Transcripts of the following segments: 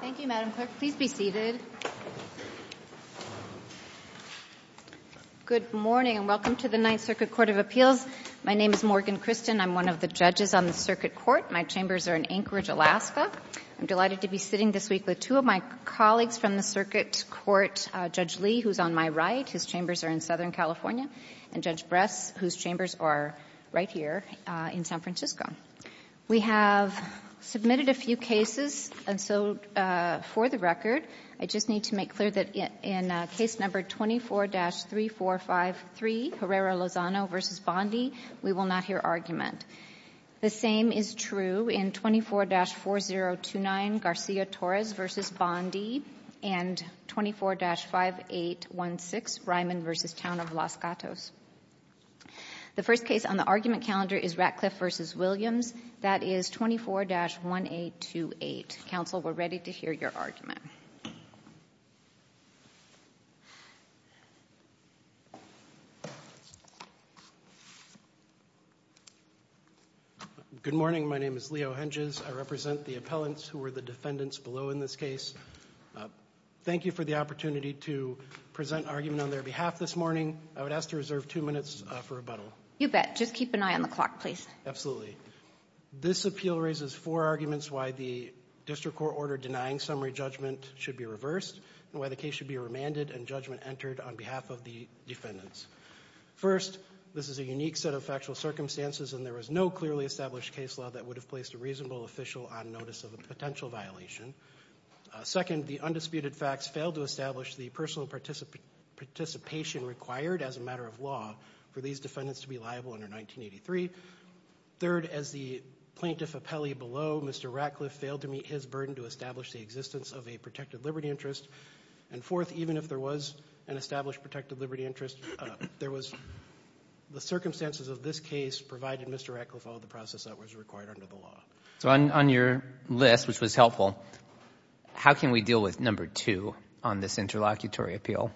Thank you, Madam Clerk. Please be seated. Good morning and welcome to the Ninth Circuit Court of Appeals. My name is Morgan Christian. I'm one of the judges on the Circuit Court. My chambers are in Anchorage, Alaska. I'm delighted to be sitting this week with two of my colleagues from the Circuit Court, Judge Lee, who's on my right. His chambers are in Southern California, and Judge Bress, whose chambers are right here in San Francisco. We have submitted a few cases, and so, for the record, I just need to make clear that in case number 24-3453, Herrera Lozano v. Bondi, we will not hear argument. The same is true in 24-4029, Garcia Torres v. Bondi, and 24-5816, Ryman v. Town of Los Gatos. The first case on the argument calendar is Ratcliff v. Williams. That is 24-1828. Counsel, we're ready to hear your argument. Good morning. My name is Leo Henges. I represent the appellants who were the defendants below in this case. Thank you for the opportunity to present argument on their behalf this morning. I would ask to reserve two minutes for rebuttal. You bet. Just keep an eye on the clock, please. Absolutely. This appeal raises four arguments why the district court order denying summary judgment should be reversed and why the case should be remanded and judgment entered on behalf of the defendants. First, this is a unique set of factual circumstances, and there is no clearly established case law that would have placed a reasonable official on notice of a potential violation. Second, the undisputed facts failed to establish the personal participation required as a matter of law for these defendants to be liable under 1983. Third, as the plaintiff appellee below, Mr. Ratcliff failed to meet his burden to establish the existence of a protected liberty interest. And fourth, even if there was an established protected liberty interest, there was the circumstances of this case provided Mr. Ratcliff all the process that was required under the law. So on your list, which was helpful, how can we deal with number two on this interlocutory appeal?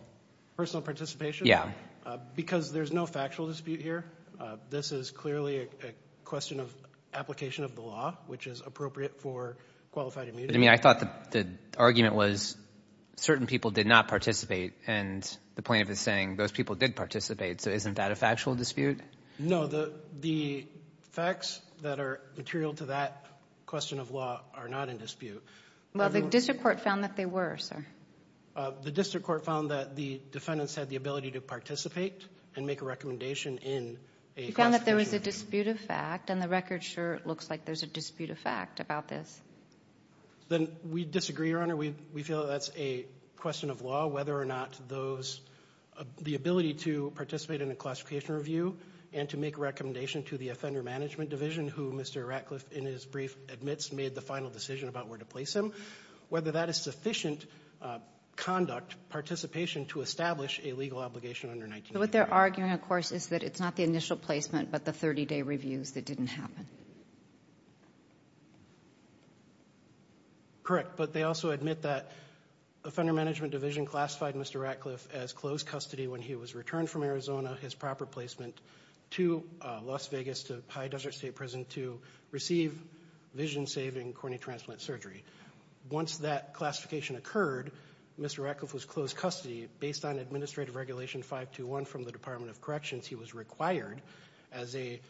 Personal participation? Yeah. Because there's no factual dispute here. This is clearly a question of application of the law, which is appropriate for qualified immunity. But I mean, I thought the argument was certain people did not participate, and the plaintiff is saying those people did participate, so isn't that a factual dispute? No. The facts that are material to that question of law are not in dispute. Well, the district court found that they were, sir. The district court found that the defendants had the ability to participate and make a recommendation in a classification review. We found that there was a disputed fact, and the record sure looks like there's a disputed fact about this. Then we disagree, Your Honor. We feel that that's a question of law, whether or not those the ability to participate in a classification review and to make a recommendation to the offender management division, who Mr. Ratcliffe, in his brief, admits made the final decision about where to place him, whether that is sufficient conduct, participation to establish a legal obligation under 1989. But what they're arguing, of course, is that it's not the initial placement, but the 30-day reviews that didn't happen. Correct. But they also admit that offender management division classified Mr. Ratcliffe as closed custody when he was returned from Arizona, his proper placement to Las Vegas, to High Desert State Prison to receive vision-saving corneal transplant surgery. Once that classification occurred, Mr. Ratcliffe was closed custody based on administrative regulation 521 from the Department of Corrections. He was required as a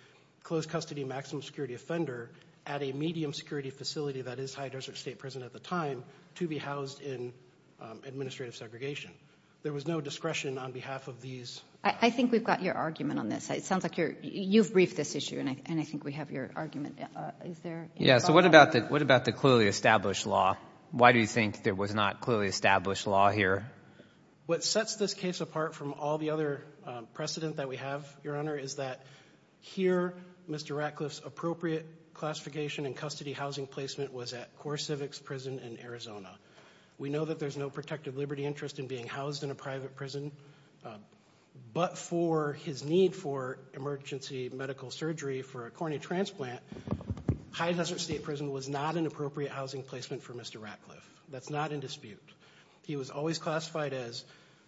closed custody maximum security offender at a medium security facility that is High Desert State Prison at the time to be housed in administrative segregation. There was no discretion on behalf of these. I think we've got your argument on this. It sounds like you've briefed this issue, and I think we have your argument. Is there any thought about that? So what about the clearly established law? Why do you think there was not clearly established law here? What sets this case apart from all the other precedent that we have, Your Honor, is that here, Mr. Ratcliffe's appropriate classification and custody housing placement was at Core Civics Prison in Arizona. We know that there's no protective liberty interest in being housed in a private prison, but for his need for emergency medical surgery for a corneal transplant, High Desert State Prison was not an appropriate housing placement for Mr. Ratcliffe. That's not in dispute. He was always classified as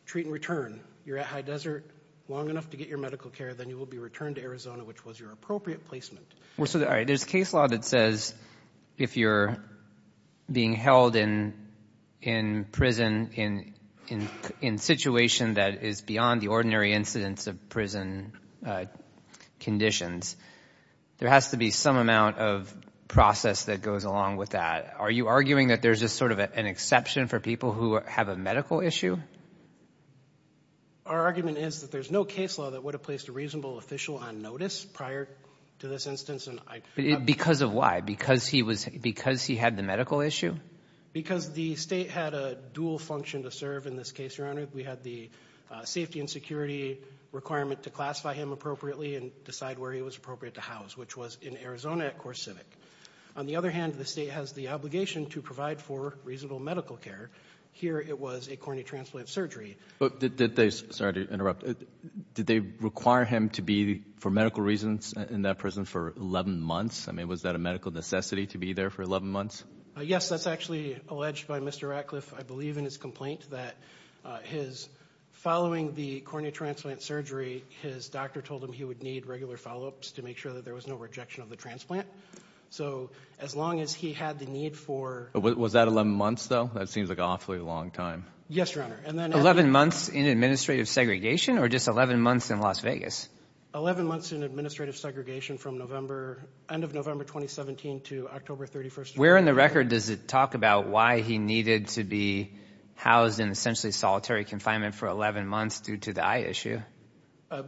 treat and return. You're at High Desert long enough to get your medical care, then you will be returned to Arizona, which was your appropriate placement. So there's case law that says if you're being held in prison in a situation that is beyond the ordinary incidence of prison conditions, there has to be some amount of process that goes along with that. Are you arguing that there's just sort of an exception for people who have a medical issue? Our argument is that there's no case law that would have placed a reasonable official on notice prior to this instance. Because of why? Because he had the medical issue? Because the state had a dual function to serve in this case, Your Honor. We had the safety and security requirement to classify him appropriately and decide where he was appropriate to house, which was in Arizona at Core Civic. On the other hand, the state has the obligation to provide for reasonable medical care. Here it was a corneal transplant surgery. Did they require him to be, for medical reasons, in that prison for 11 months? Was that a medical necessity to be there for 11 months? Yes. That's actually alleged by Mr. Ratcliffe, I believe, in his complaint that following the corneal transplant surgery, his doctor told him he would need regular follow-ups to make sure that there was no rejection of the transplant. So as long as he had the need for... Was that 11 months, though? That seems like an awfully long time. Yes, Your Honor. 11 months in administrative segregation, or just 11 months in Las Vegas? 11 months in administrative segregation from end of November 2017 to October 31, 2018. Where in the record does it talk about why he needed to be housed in essentially solitary confinement for 11 months due to the eye issue?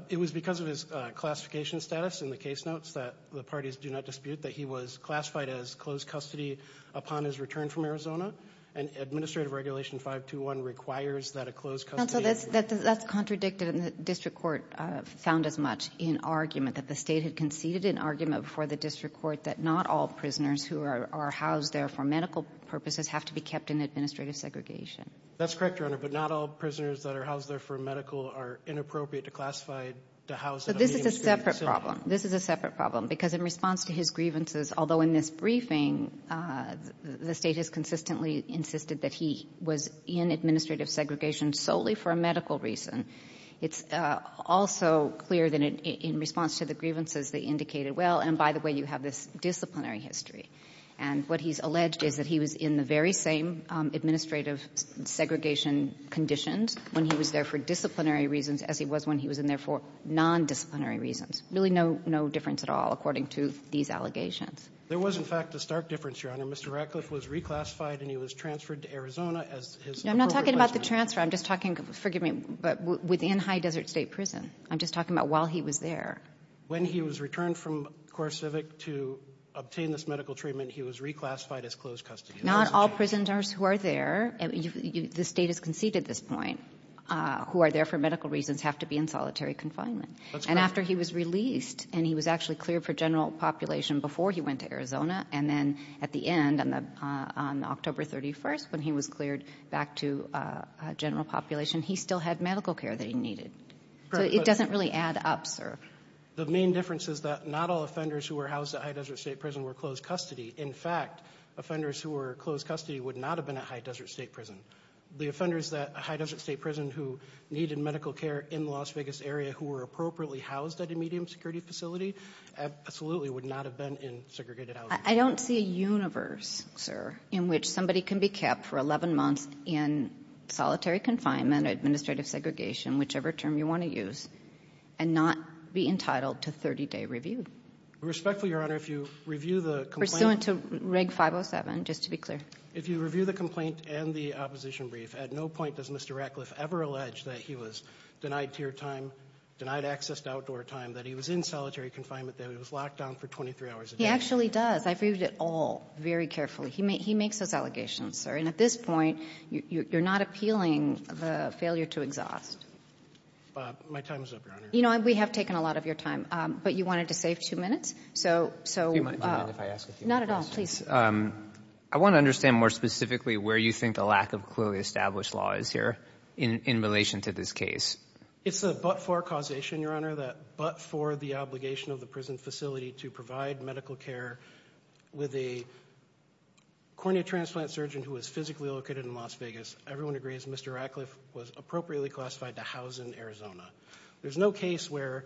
It was because of his classification status in the case notes that the parties do not dispute that he was classified as closed custody upon his return from Arizona. And Administrative Regulation 521 requires that a closed custody... And so that's contradictive, and the district court found as much in argument that the state had conceded an argument before the district court that not all prisoners who are housed there for medical purposes have to be kept in administrative segregation. That's correct, Your Honor, but not all prisoners that are housed there for medical are inappropriate to classify to house in an administrative facility. But this is a separate problem. This is a separate problem, because in response to his grievances, although in this briefing the State has consistently insisted that he was in administrative segregation solely for a medical reason, it's also clear that in response to the grievances they indicated, well, and by the way, you have this disciplinary history. And what he's alleged is that he was in the very same administrative segregation conditions when he was there for disciplinary reasons as he was when he was in there for nondisciplinary reasons. Really no difference at all according to these allegations. There was, in fact, a stark difference, Your Honor. Mr. Ratcliffe was reclassified and he was transferred to Arizona as his appropriate No, I'm not talking about the transfer. I'm just talking, forgive me, but within High Desert State Prison. I'm just talking about while he was there. When he was returned from CoreCivic to obtain this medical treatment, he was reclassified as closed custody. Not all prisoners who are there, the State has conceded this point, who are there for medical reasons have to be in solitary confinement. That's correct. However, he was released and he was actually cleared for general population before he went to Arizona. And then at the end, on October 31st, when he was cleared back to general population, he still had medical care that he needed. So it doesn't really add up, sir. The main difference is that not all offenders who were housed at High Desert State Prison were closed custody. In fact, offenders who were closed custody would not have been at High Desert State Prison. The offenders at High Desert State Prison who needed medical care in the Las Vegas area who were appropriately housed at a medium security facility absolutely would not have been in segregated housing. I don't see a universe, sir, in which somebody can be kept for 11 months in solitary confinement, administrative segregation, whichever term you want to use, and not be entitled to 30-day review. Respectfully, Your Honor, if you review the complaint. Pursuant to Reg. 507, just to be clear. If you review the complaint and the opposition brief, at no point does Mr. Ratcliffe ever allege that he was denied tier time, denied access to outdoor time, that he was in solitary confinement, that he was locked down for 23 hours a day. He actually does. I've reviewed it all very carefully. He makes those allegations, sir. And at this point, you're not appealing the failure to exhaust. My time is up, Your Honor. You know, we have taken a lot of your time. But you wanted to save two minutes, so. Not at all. Please. I want to understand more specifically where you think the lack of clearly established law is here in relation to this case. It's a but-for causation, Your Honor, that but-for the obligation of the prison facility to provide medical care with a cornea transplant surgeon who was physically located in Las Vegas. Everyone agrees Mr. Ratcliffe was appropriately classified to house in Arizona. There's no case where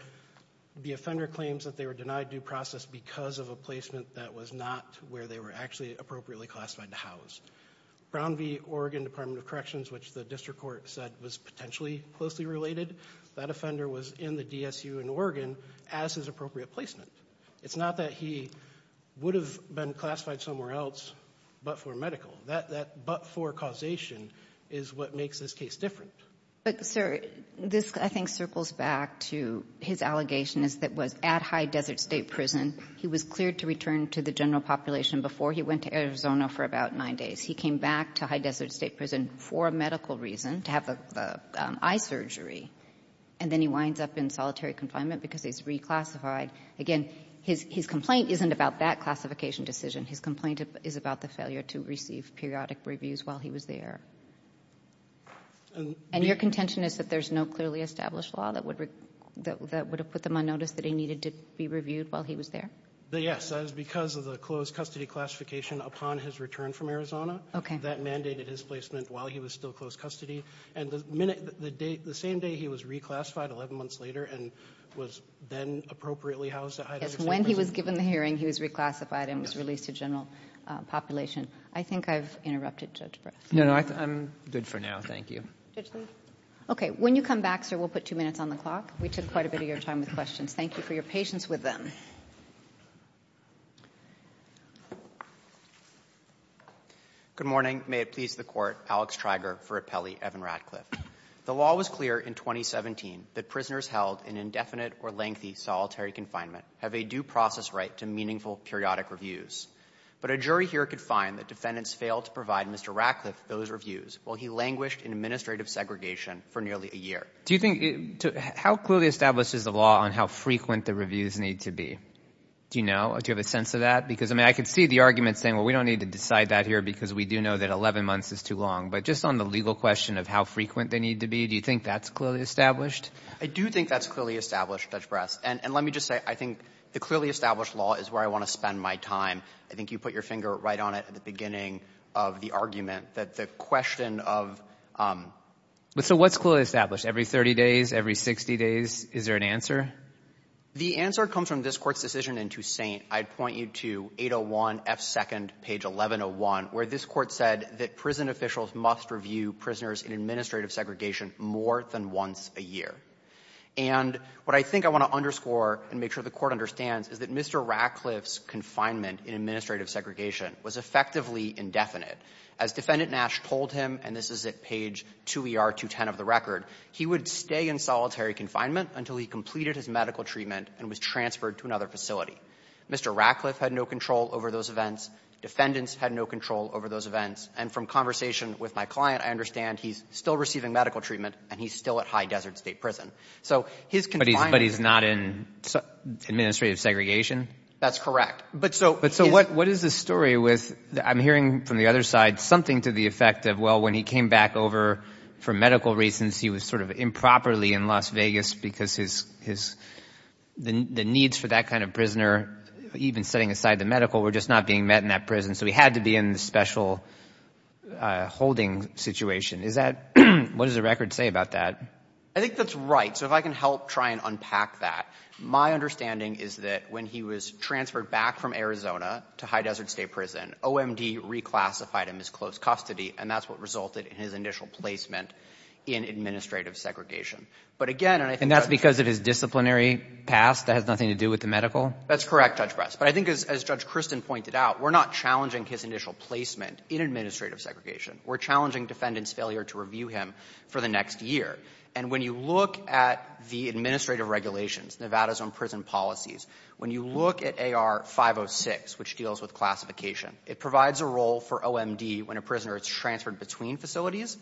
the offender claims that they were denied due process because of a placement that was not where they were actually appropriately classified to house. Brown v. Oregon Department of Corrections, which the district court said was potentially closely related, that offender was in the DSU in Oregon as his appropriate placement. It's not that he would have been classified somewhere else but for medical. That but-for causation is what makes this case different. But, sir, this I think circles back to his allegation that was at High Desert State Prison, he was cleared to return to the general population before he went to Arizona for about nine days. He came back to High Desert State Prison for a medical reason, to have the eye surgery, and then he winds up in solitary confinement because he's reclassified. Again, his complaint isn't about that classification decision. His complaint is about the failure to receive periodic reviews while he was there. And your contention is that there's no clearly established law that would have put them on notice that he needed to be reviewed while he was there? Yes. That is because of the closed custody classification upon his return from Arizona. Okay. That mandated his placement while he was still closed custody. And the minute the day the same day he was reclassified, 11 months later, and was then appropriately housed at High Desert State Prison. Yes. When he was given the hearing, he was reclassified and was released to general population. I think I've interrupted Judge Breyer. No, no. I'm good for now. Thank you. Okay. When you come back, sir, we'll put two minutes on the clock. We took quite a bit of your time with questions. Thank you for your patience with them. Good morning. May it please the Court. Alex Treiger for Appelli. Evan Ratcliffe. The law was clear in 2017 that prisoners held in indefinite or lengthy solitary confinement have a due process right to meaningful periodic reviews. But a jury here could find that defendants failed to provide Mr. Ratcliffe those reviews while he languished in administrative segregation for nearly a year. How clearly established is the law on how frequent the reviews need to be? Do you know? Do you have a sense of that? Because, I mean, I could see the argument saying, well, we don't need to decide that here because we do know that 11 months is too long. But just on the legal question of how frequent they need to be, do you think that's clearly established? I do think that's clearly established, Judge Brass. And let me just say, I think the clearly established law is where I want to spend my time. I think you put your finger right on it at the beginning of the argument that the question of — So what's clearly established? Every 30 days? Every 60 days? Is there an answer? The answer comes from this Court's decision in Toussaint. I'd point you to 801F2, page 1101, where this Court said that prison officials must review prisoners in administrative segregation more than once a year. And what I think I want to underscore and make sure the Court understands is that Mr. Ratcliffe's confinement in administrative segregation was effectively indefinite. As Defendant Nash told him, and this is at page 2ER210 of the record, he would stay in solitary confinement until he completed his medical treatment and was transferred to another facility. Mr. Ratcliffe had no control over those events. Defendants had no control over those events. And from conversation with my client, I understand he's still receiving medical treatment and he's still at High Desert State Prison. But he's not in administrative segregation? That's correct. But so what is the story with I'm hearing from the other side something to the effect of, well, when he came back over for medical reasons, he was sort of improperly in Las Vegas because the needs for that kind of prisoner, even setting aside the medical, were just not being met in that prison. So he had to be in this special holding situation. What does the record say about that? I think that's right. So if I can help try and unpack that, my understanding is that when he was transferred back from Arizona to High Desert State Prison, OMD reclassified him as close custody. And that's what resulted in his initial placement in administrative segregation. But again, and I think that's because of his disciplinary past that has nothing to do with the medical? That's correct, Judge Bress. But I think as Judge Christin pointed out, we're not challenging his initial placement in administrative segregation. We're challenging defendant's failure to review him for the next year. And when you look at the administrative regulations, Nevada's own prison policies, when you look at AR506, which deals with classification, it provides a role for OMD when a prisoner is transferred between facilities,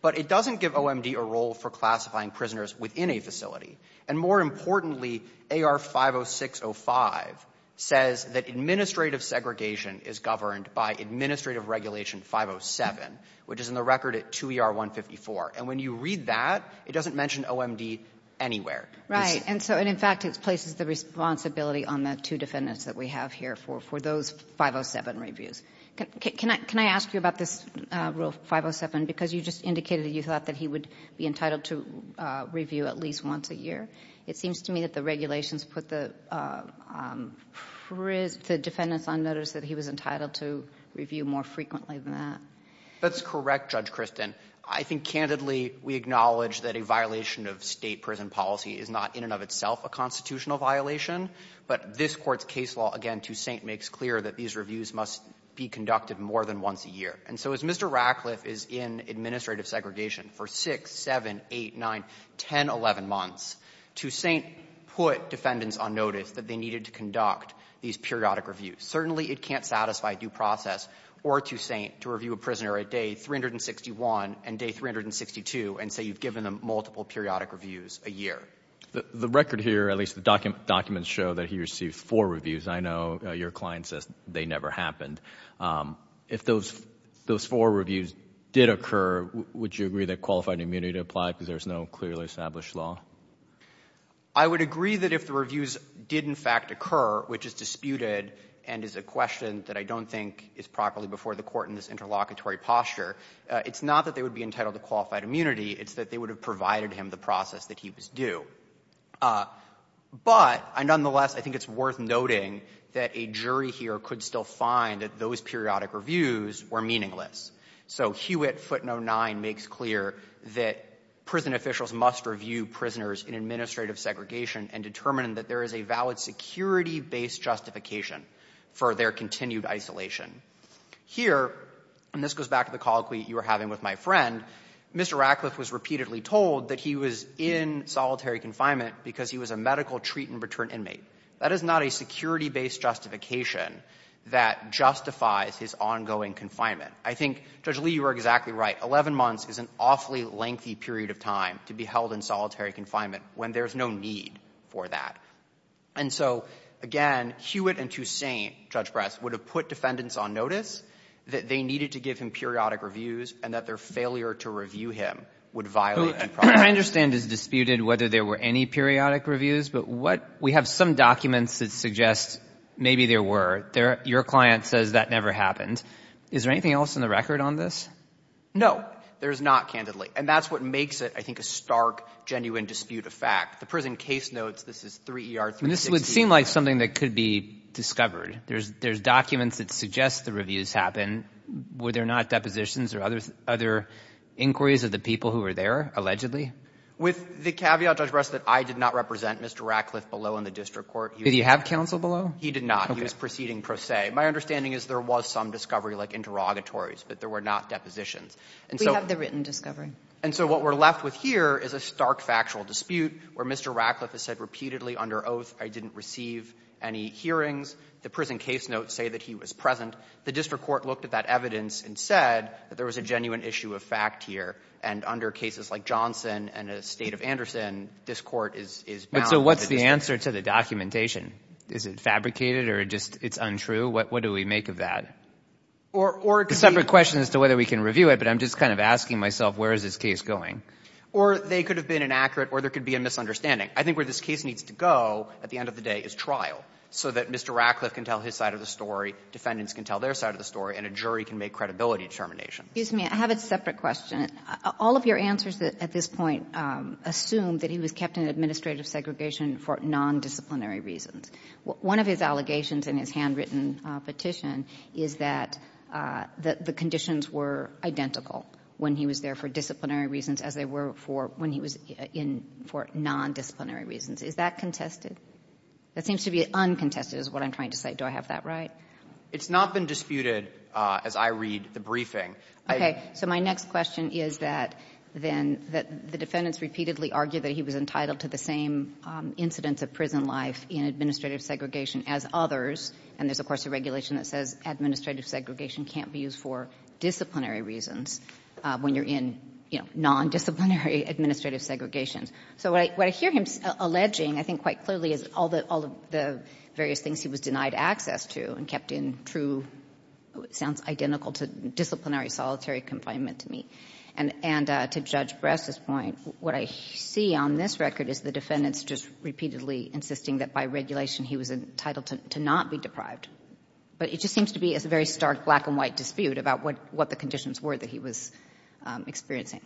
but it doesn't give OMD a role for classifying prisoners within a facility. And more importantly, AR50605 says that administrative segregation is governed by Administrative Regulation 507, which is in the record at 2ER154. And when you read that, it doesn't mention OMD anywhere. Right. And so in fact, it places the responsibility on the two defendants that we have here for those 507 reviews. Can I ask you about this Rule 507? Because you just indicated that you thought that he would be entitled to review at least once a year. It seems to me that the regulations put the defendants on notice that he was entitled to review more frequently than that. That's correct, Judge Christin. And I think candidly, we acknowledge that a violation of State prison policy is not in and of itself a constitutional violation. But this Court's case law, again, Toussaint makes clear that these reviews must be conducted more than once a year. And so as Mr. Ratcliffe is in administrative segregation for 6, 7, 8, 9, 10, 11 months, Toussaint put defendants on notice that they needed to conduct these periodic reviews. Certainly, it can't satisfy due process or Toussaint to review a prisoner a day 361 and day 362 and say you've given them multiple periodic reviews a year. The record here, at least the documents show that he received four reviews. I know your client says they never happened. If those four reviews did occur, would you agree that qualified immunity applied because there's no clearly established law? I would agree that if the reviews did in fact occur, which is disputed and is a question that I don't think is properly before the Court in this interlocutory posture, it's not that they would be entitled to qualified immunity. It's that they would have provided him the process that he was due. But nonetheless, I think it's worth noting that a jury here could still find that those periodic reviews were meaningless. So Hewitt, footnote 9, makes clear that prison officials must review prisoners in administrative segregation and determine that there is a valid security-based justification for their continued isolation. Here, and this goes back to the colloquy you were having with my friend, Mr. Ratcliffe was repeatedly told that he was in solitary confinement because he was a medical treat-and-return inmate. That is not a security-based justification that justifies his ongoing confinement. I think, Judge Lee, you are exactly right. Eleven months is an awfully lengthy period of time to be held in solitary confinement when there's no need for that. And so, again, Hewitt and Toussaint, Judge Brass, would have put defendants on notice that they needed to give him periodic reviews and that their failure to review him would violate due process. I understand it's disputed whether there were any periodic reviews, but what we have some documents that suggest maybe there were. Your client says that never happened. Is there anything else in the record on this? No. There is not, candidly. And that's what makes it, I think, a stark, genuine dispute of fact. The prison case notes this is 3 ER 360. This would seem like something that could be discovered. There's documents that suggest the reviews happened. Were there not depositions or other inquiries of the people who were there, allegedly? With the caveat, Judge Brass, that I did not represent Mr. Ratcliffe below in the district court. Did he have counsel below? He did not. He was proceeding pro se. My understanding is there was some discovery, like interrogatories, but there were not depositions. We have the written discovery. And so what we're left with here is a stark factual dispute where Mr. Ratcliffe has said repeatedly under oath, I didn't receive any hearings. The prison case notes say that he was present. The district court looked at that evidence and said that there was a genuine issue of fact here. And under cases like Johnson and a State of Anderson, this Court is bound to disagree. But so what's the answer to the documentation? Is it fabricated or just it's untrue? What do we make of that? Or it could be a separate question as to whether we can review it, but I'm just kind of asking myself where is this case going. Or they could have been inaccurate or there could be a misunderstanding. I think where this case needs to go at the end of the day is trial, so that Mr. Ratcliffe can tell his side of the story, defendants can tell their side of the story, and a jury can make credibility determination. I have a separate question. All of your answers at this point assume that he was kept in administrative segregation for nondisciplinary reasons. One of his allegations in his handwritten petition is that the conditions were identical. When he was there for disciplinary reasons as they were for when he was in for nondisciplinary reasons. Is that contested? That seems to be uncontested is what I'm trying to say. Do I have that right? It's not been disputed as I read the briefing. So my next question is that then the defendants repeatedly argued that he was entitled to the same incidence of prison life in administrative segregation as others. And there's, of course, a regulation that says administrative segregation can't be used for disciplinary reasons when you're in, you know, nondisciplinary administrative segregation. So what I hear him alleging, I think quite clearly, is all the various things he was denied access to and kept in true, sounds identical to disciplinary solitary confinement to me. And to Judge Bress's point, what I see on this record is the defendants just repeatedly insisting that by regulation he was entitled to not be deprived. But it just seems to be a very stark black-and-white dispute about what the conditions were that he was experiencing.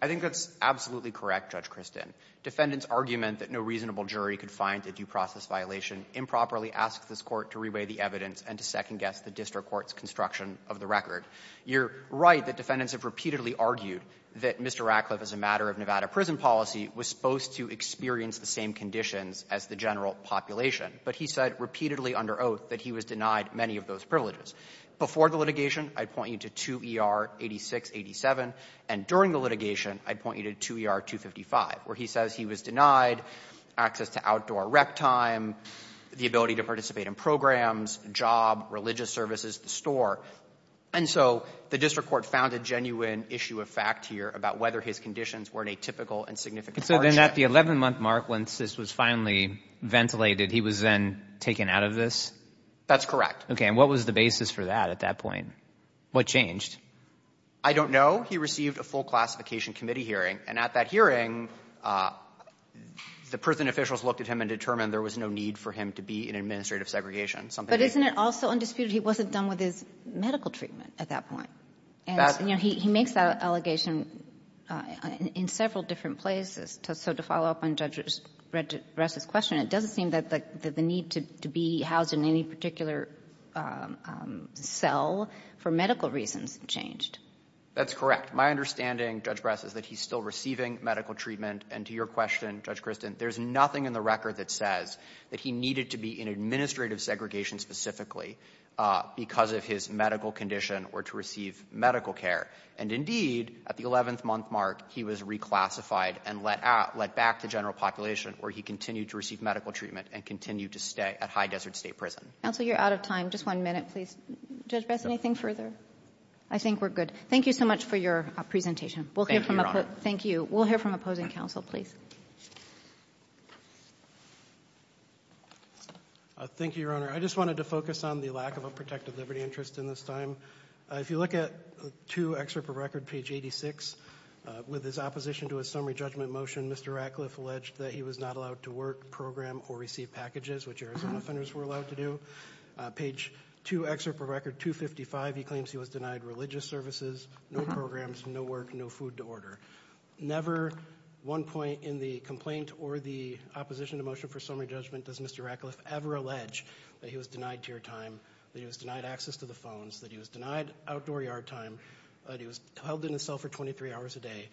I think that's absolutely correct, Judge Kristin. Defendants' argument that no reasonable jury could find a due process violation improperly asks this Court to reweigh the evidence and to second-guess the district court's construction of the record. You're right that defendants have repeatedly argued that Mr. Ratcliffe, as a matter of Nevada prison policy, was supposed to experience the same conditions as the general population. But he said repeatedly under oath that he was denied many of those privileges. Before the litigation, I'd point you to 2 ER 8687. And during the litigation, I'd point you to 2 ER 255, where he says he was denied access to outdoor rec time, the ability to participate in programs, job, religious services, the store. And so the district court found a genuine issue of fact here about whether his conditions were in a typical and significant hardship. So then at the 11-month mark, once this was finally ventilated, he was then taken out of this? That's correct. Okay. And what was the basis for that at that point? What changed? I don't know. He received a full classification committee hearing. And at that hearing, the prison officials looked at him and determined there was no need for him to be in administrative segregation. But isn't it also undisputed he wasn't done with his medical treatment at that point? And, you know, he makes that allegation in several different places. So to follow up on Judge Brass's question, it doesn't seem that the need to be housed in any particular cell for medical reasons changed. That's correct. My understanding, Judge Brass, is that he's still receiving medical treatment. And to your question, Judge Kristen, there's nothing in the record that says that he needed to be in administrative segregation specifically because of his medical condition or to receive medical care. And, indeed, at the 11th month mark, he was reclassified and let back to general population where he continued to receive medical treatment and continued to stay at High Desert State Prison. Counsel, you're out of time. Just one minute, please. Judge Brass, anything further? I think we're good. Thank you so much for your presentation. Thank you, Your Honor. Thank you. We'll hear from opposing counsel, please. Thank you, Your Honor. I just wanted to focus on the lack of a protective liberty interest in this time. If you look at 2 excerpt of record, page 86, with his opposition to a summary judgment motion, Mr. Ratcliffe alleged that he was not allowed to work, program, or receive packages, which Arizona offenders were allowed to do. Page 2 excerpt of record 255, he claims he was denied religious services, no programs, no work, no food to order. Never one point in the complaint or the opposition to motion for summary judgment does Mr. Ratcliffe ever allege that he was denied tier time, that he was denied access to the phones, that he was denied outdoor yard time, that he was held in a cell for 23 hours a day.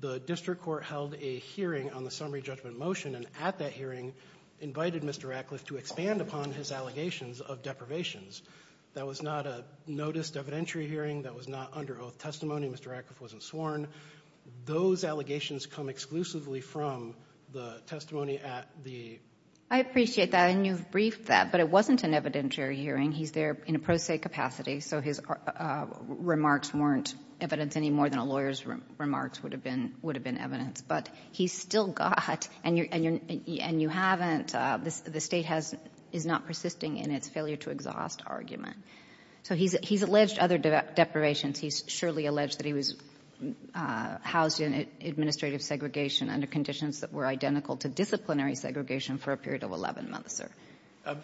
The district court held a hearing on the summary judgment motion and at that hearing invited Mr. Ratcliffe to expand upon his allegations of deprivations. That was not a noticed evidentiary hearing. That was not under oath testimony. Mr. Ratcliffe wasn't sworn. Those allegations come exclusively from the testimony at the. I appreciate that and you've briefed that, but it wasn't an evidentiary hearing. He's there in a pro se capacity, so his remarks weren't evidence any more than a lawyer's remarks would have been evidence. But he's still got, and you haven't, the State is not persisting in its failure to exhaust argument. So he's alleged other deprivations. He's surely alleged that he was housed in administrative segregation under conditions that were identical to disciplinary segregation for a period of 11 months, sir.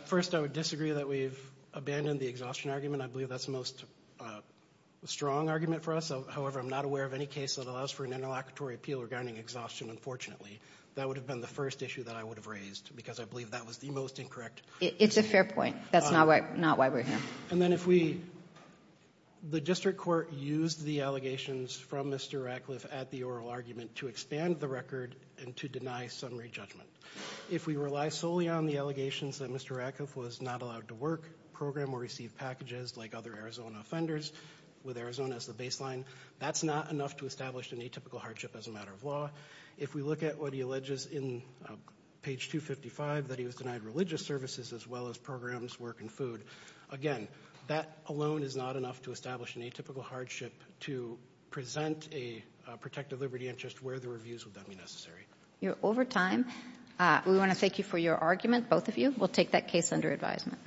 First, I would disagree that we've abandoned the exhaustion argument. I believe that's the most strong argument for us. However, I'm not aware of any case that allows for an interlocutory appeal regarding exhaustion, unfortunately. That would have been the first issue that I would have raised because I believe that was the most incorrect. It's a fair point. That's not why we're here. And then if we, the District Court used the allegations from Mr. Ratcliffe at the oral argument to expand the record and to deny summary judgment. If we rely solely on the allegations that Mr. Ratcliffe was not allowed to work, program or receive packages like other Arizona offenders, with Arizona as the baseline, that's not enough to establish an atypical hardship as a matter of law. If we look at what he alleges in page 255, that he was denied religious services as well as programs, work and food. Again, that alone is not enough to establish an atypical hardship to present a protected liberty interest where the reviews would then be necessary. You're over time. We want to thank you for your argument, both of you. We'll take that case under advisement.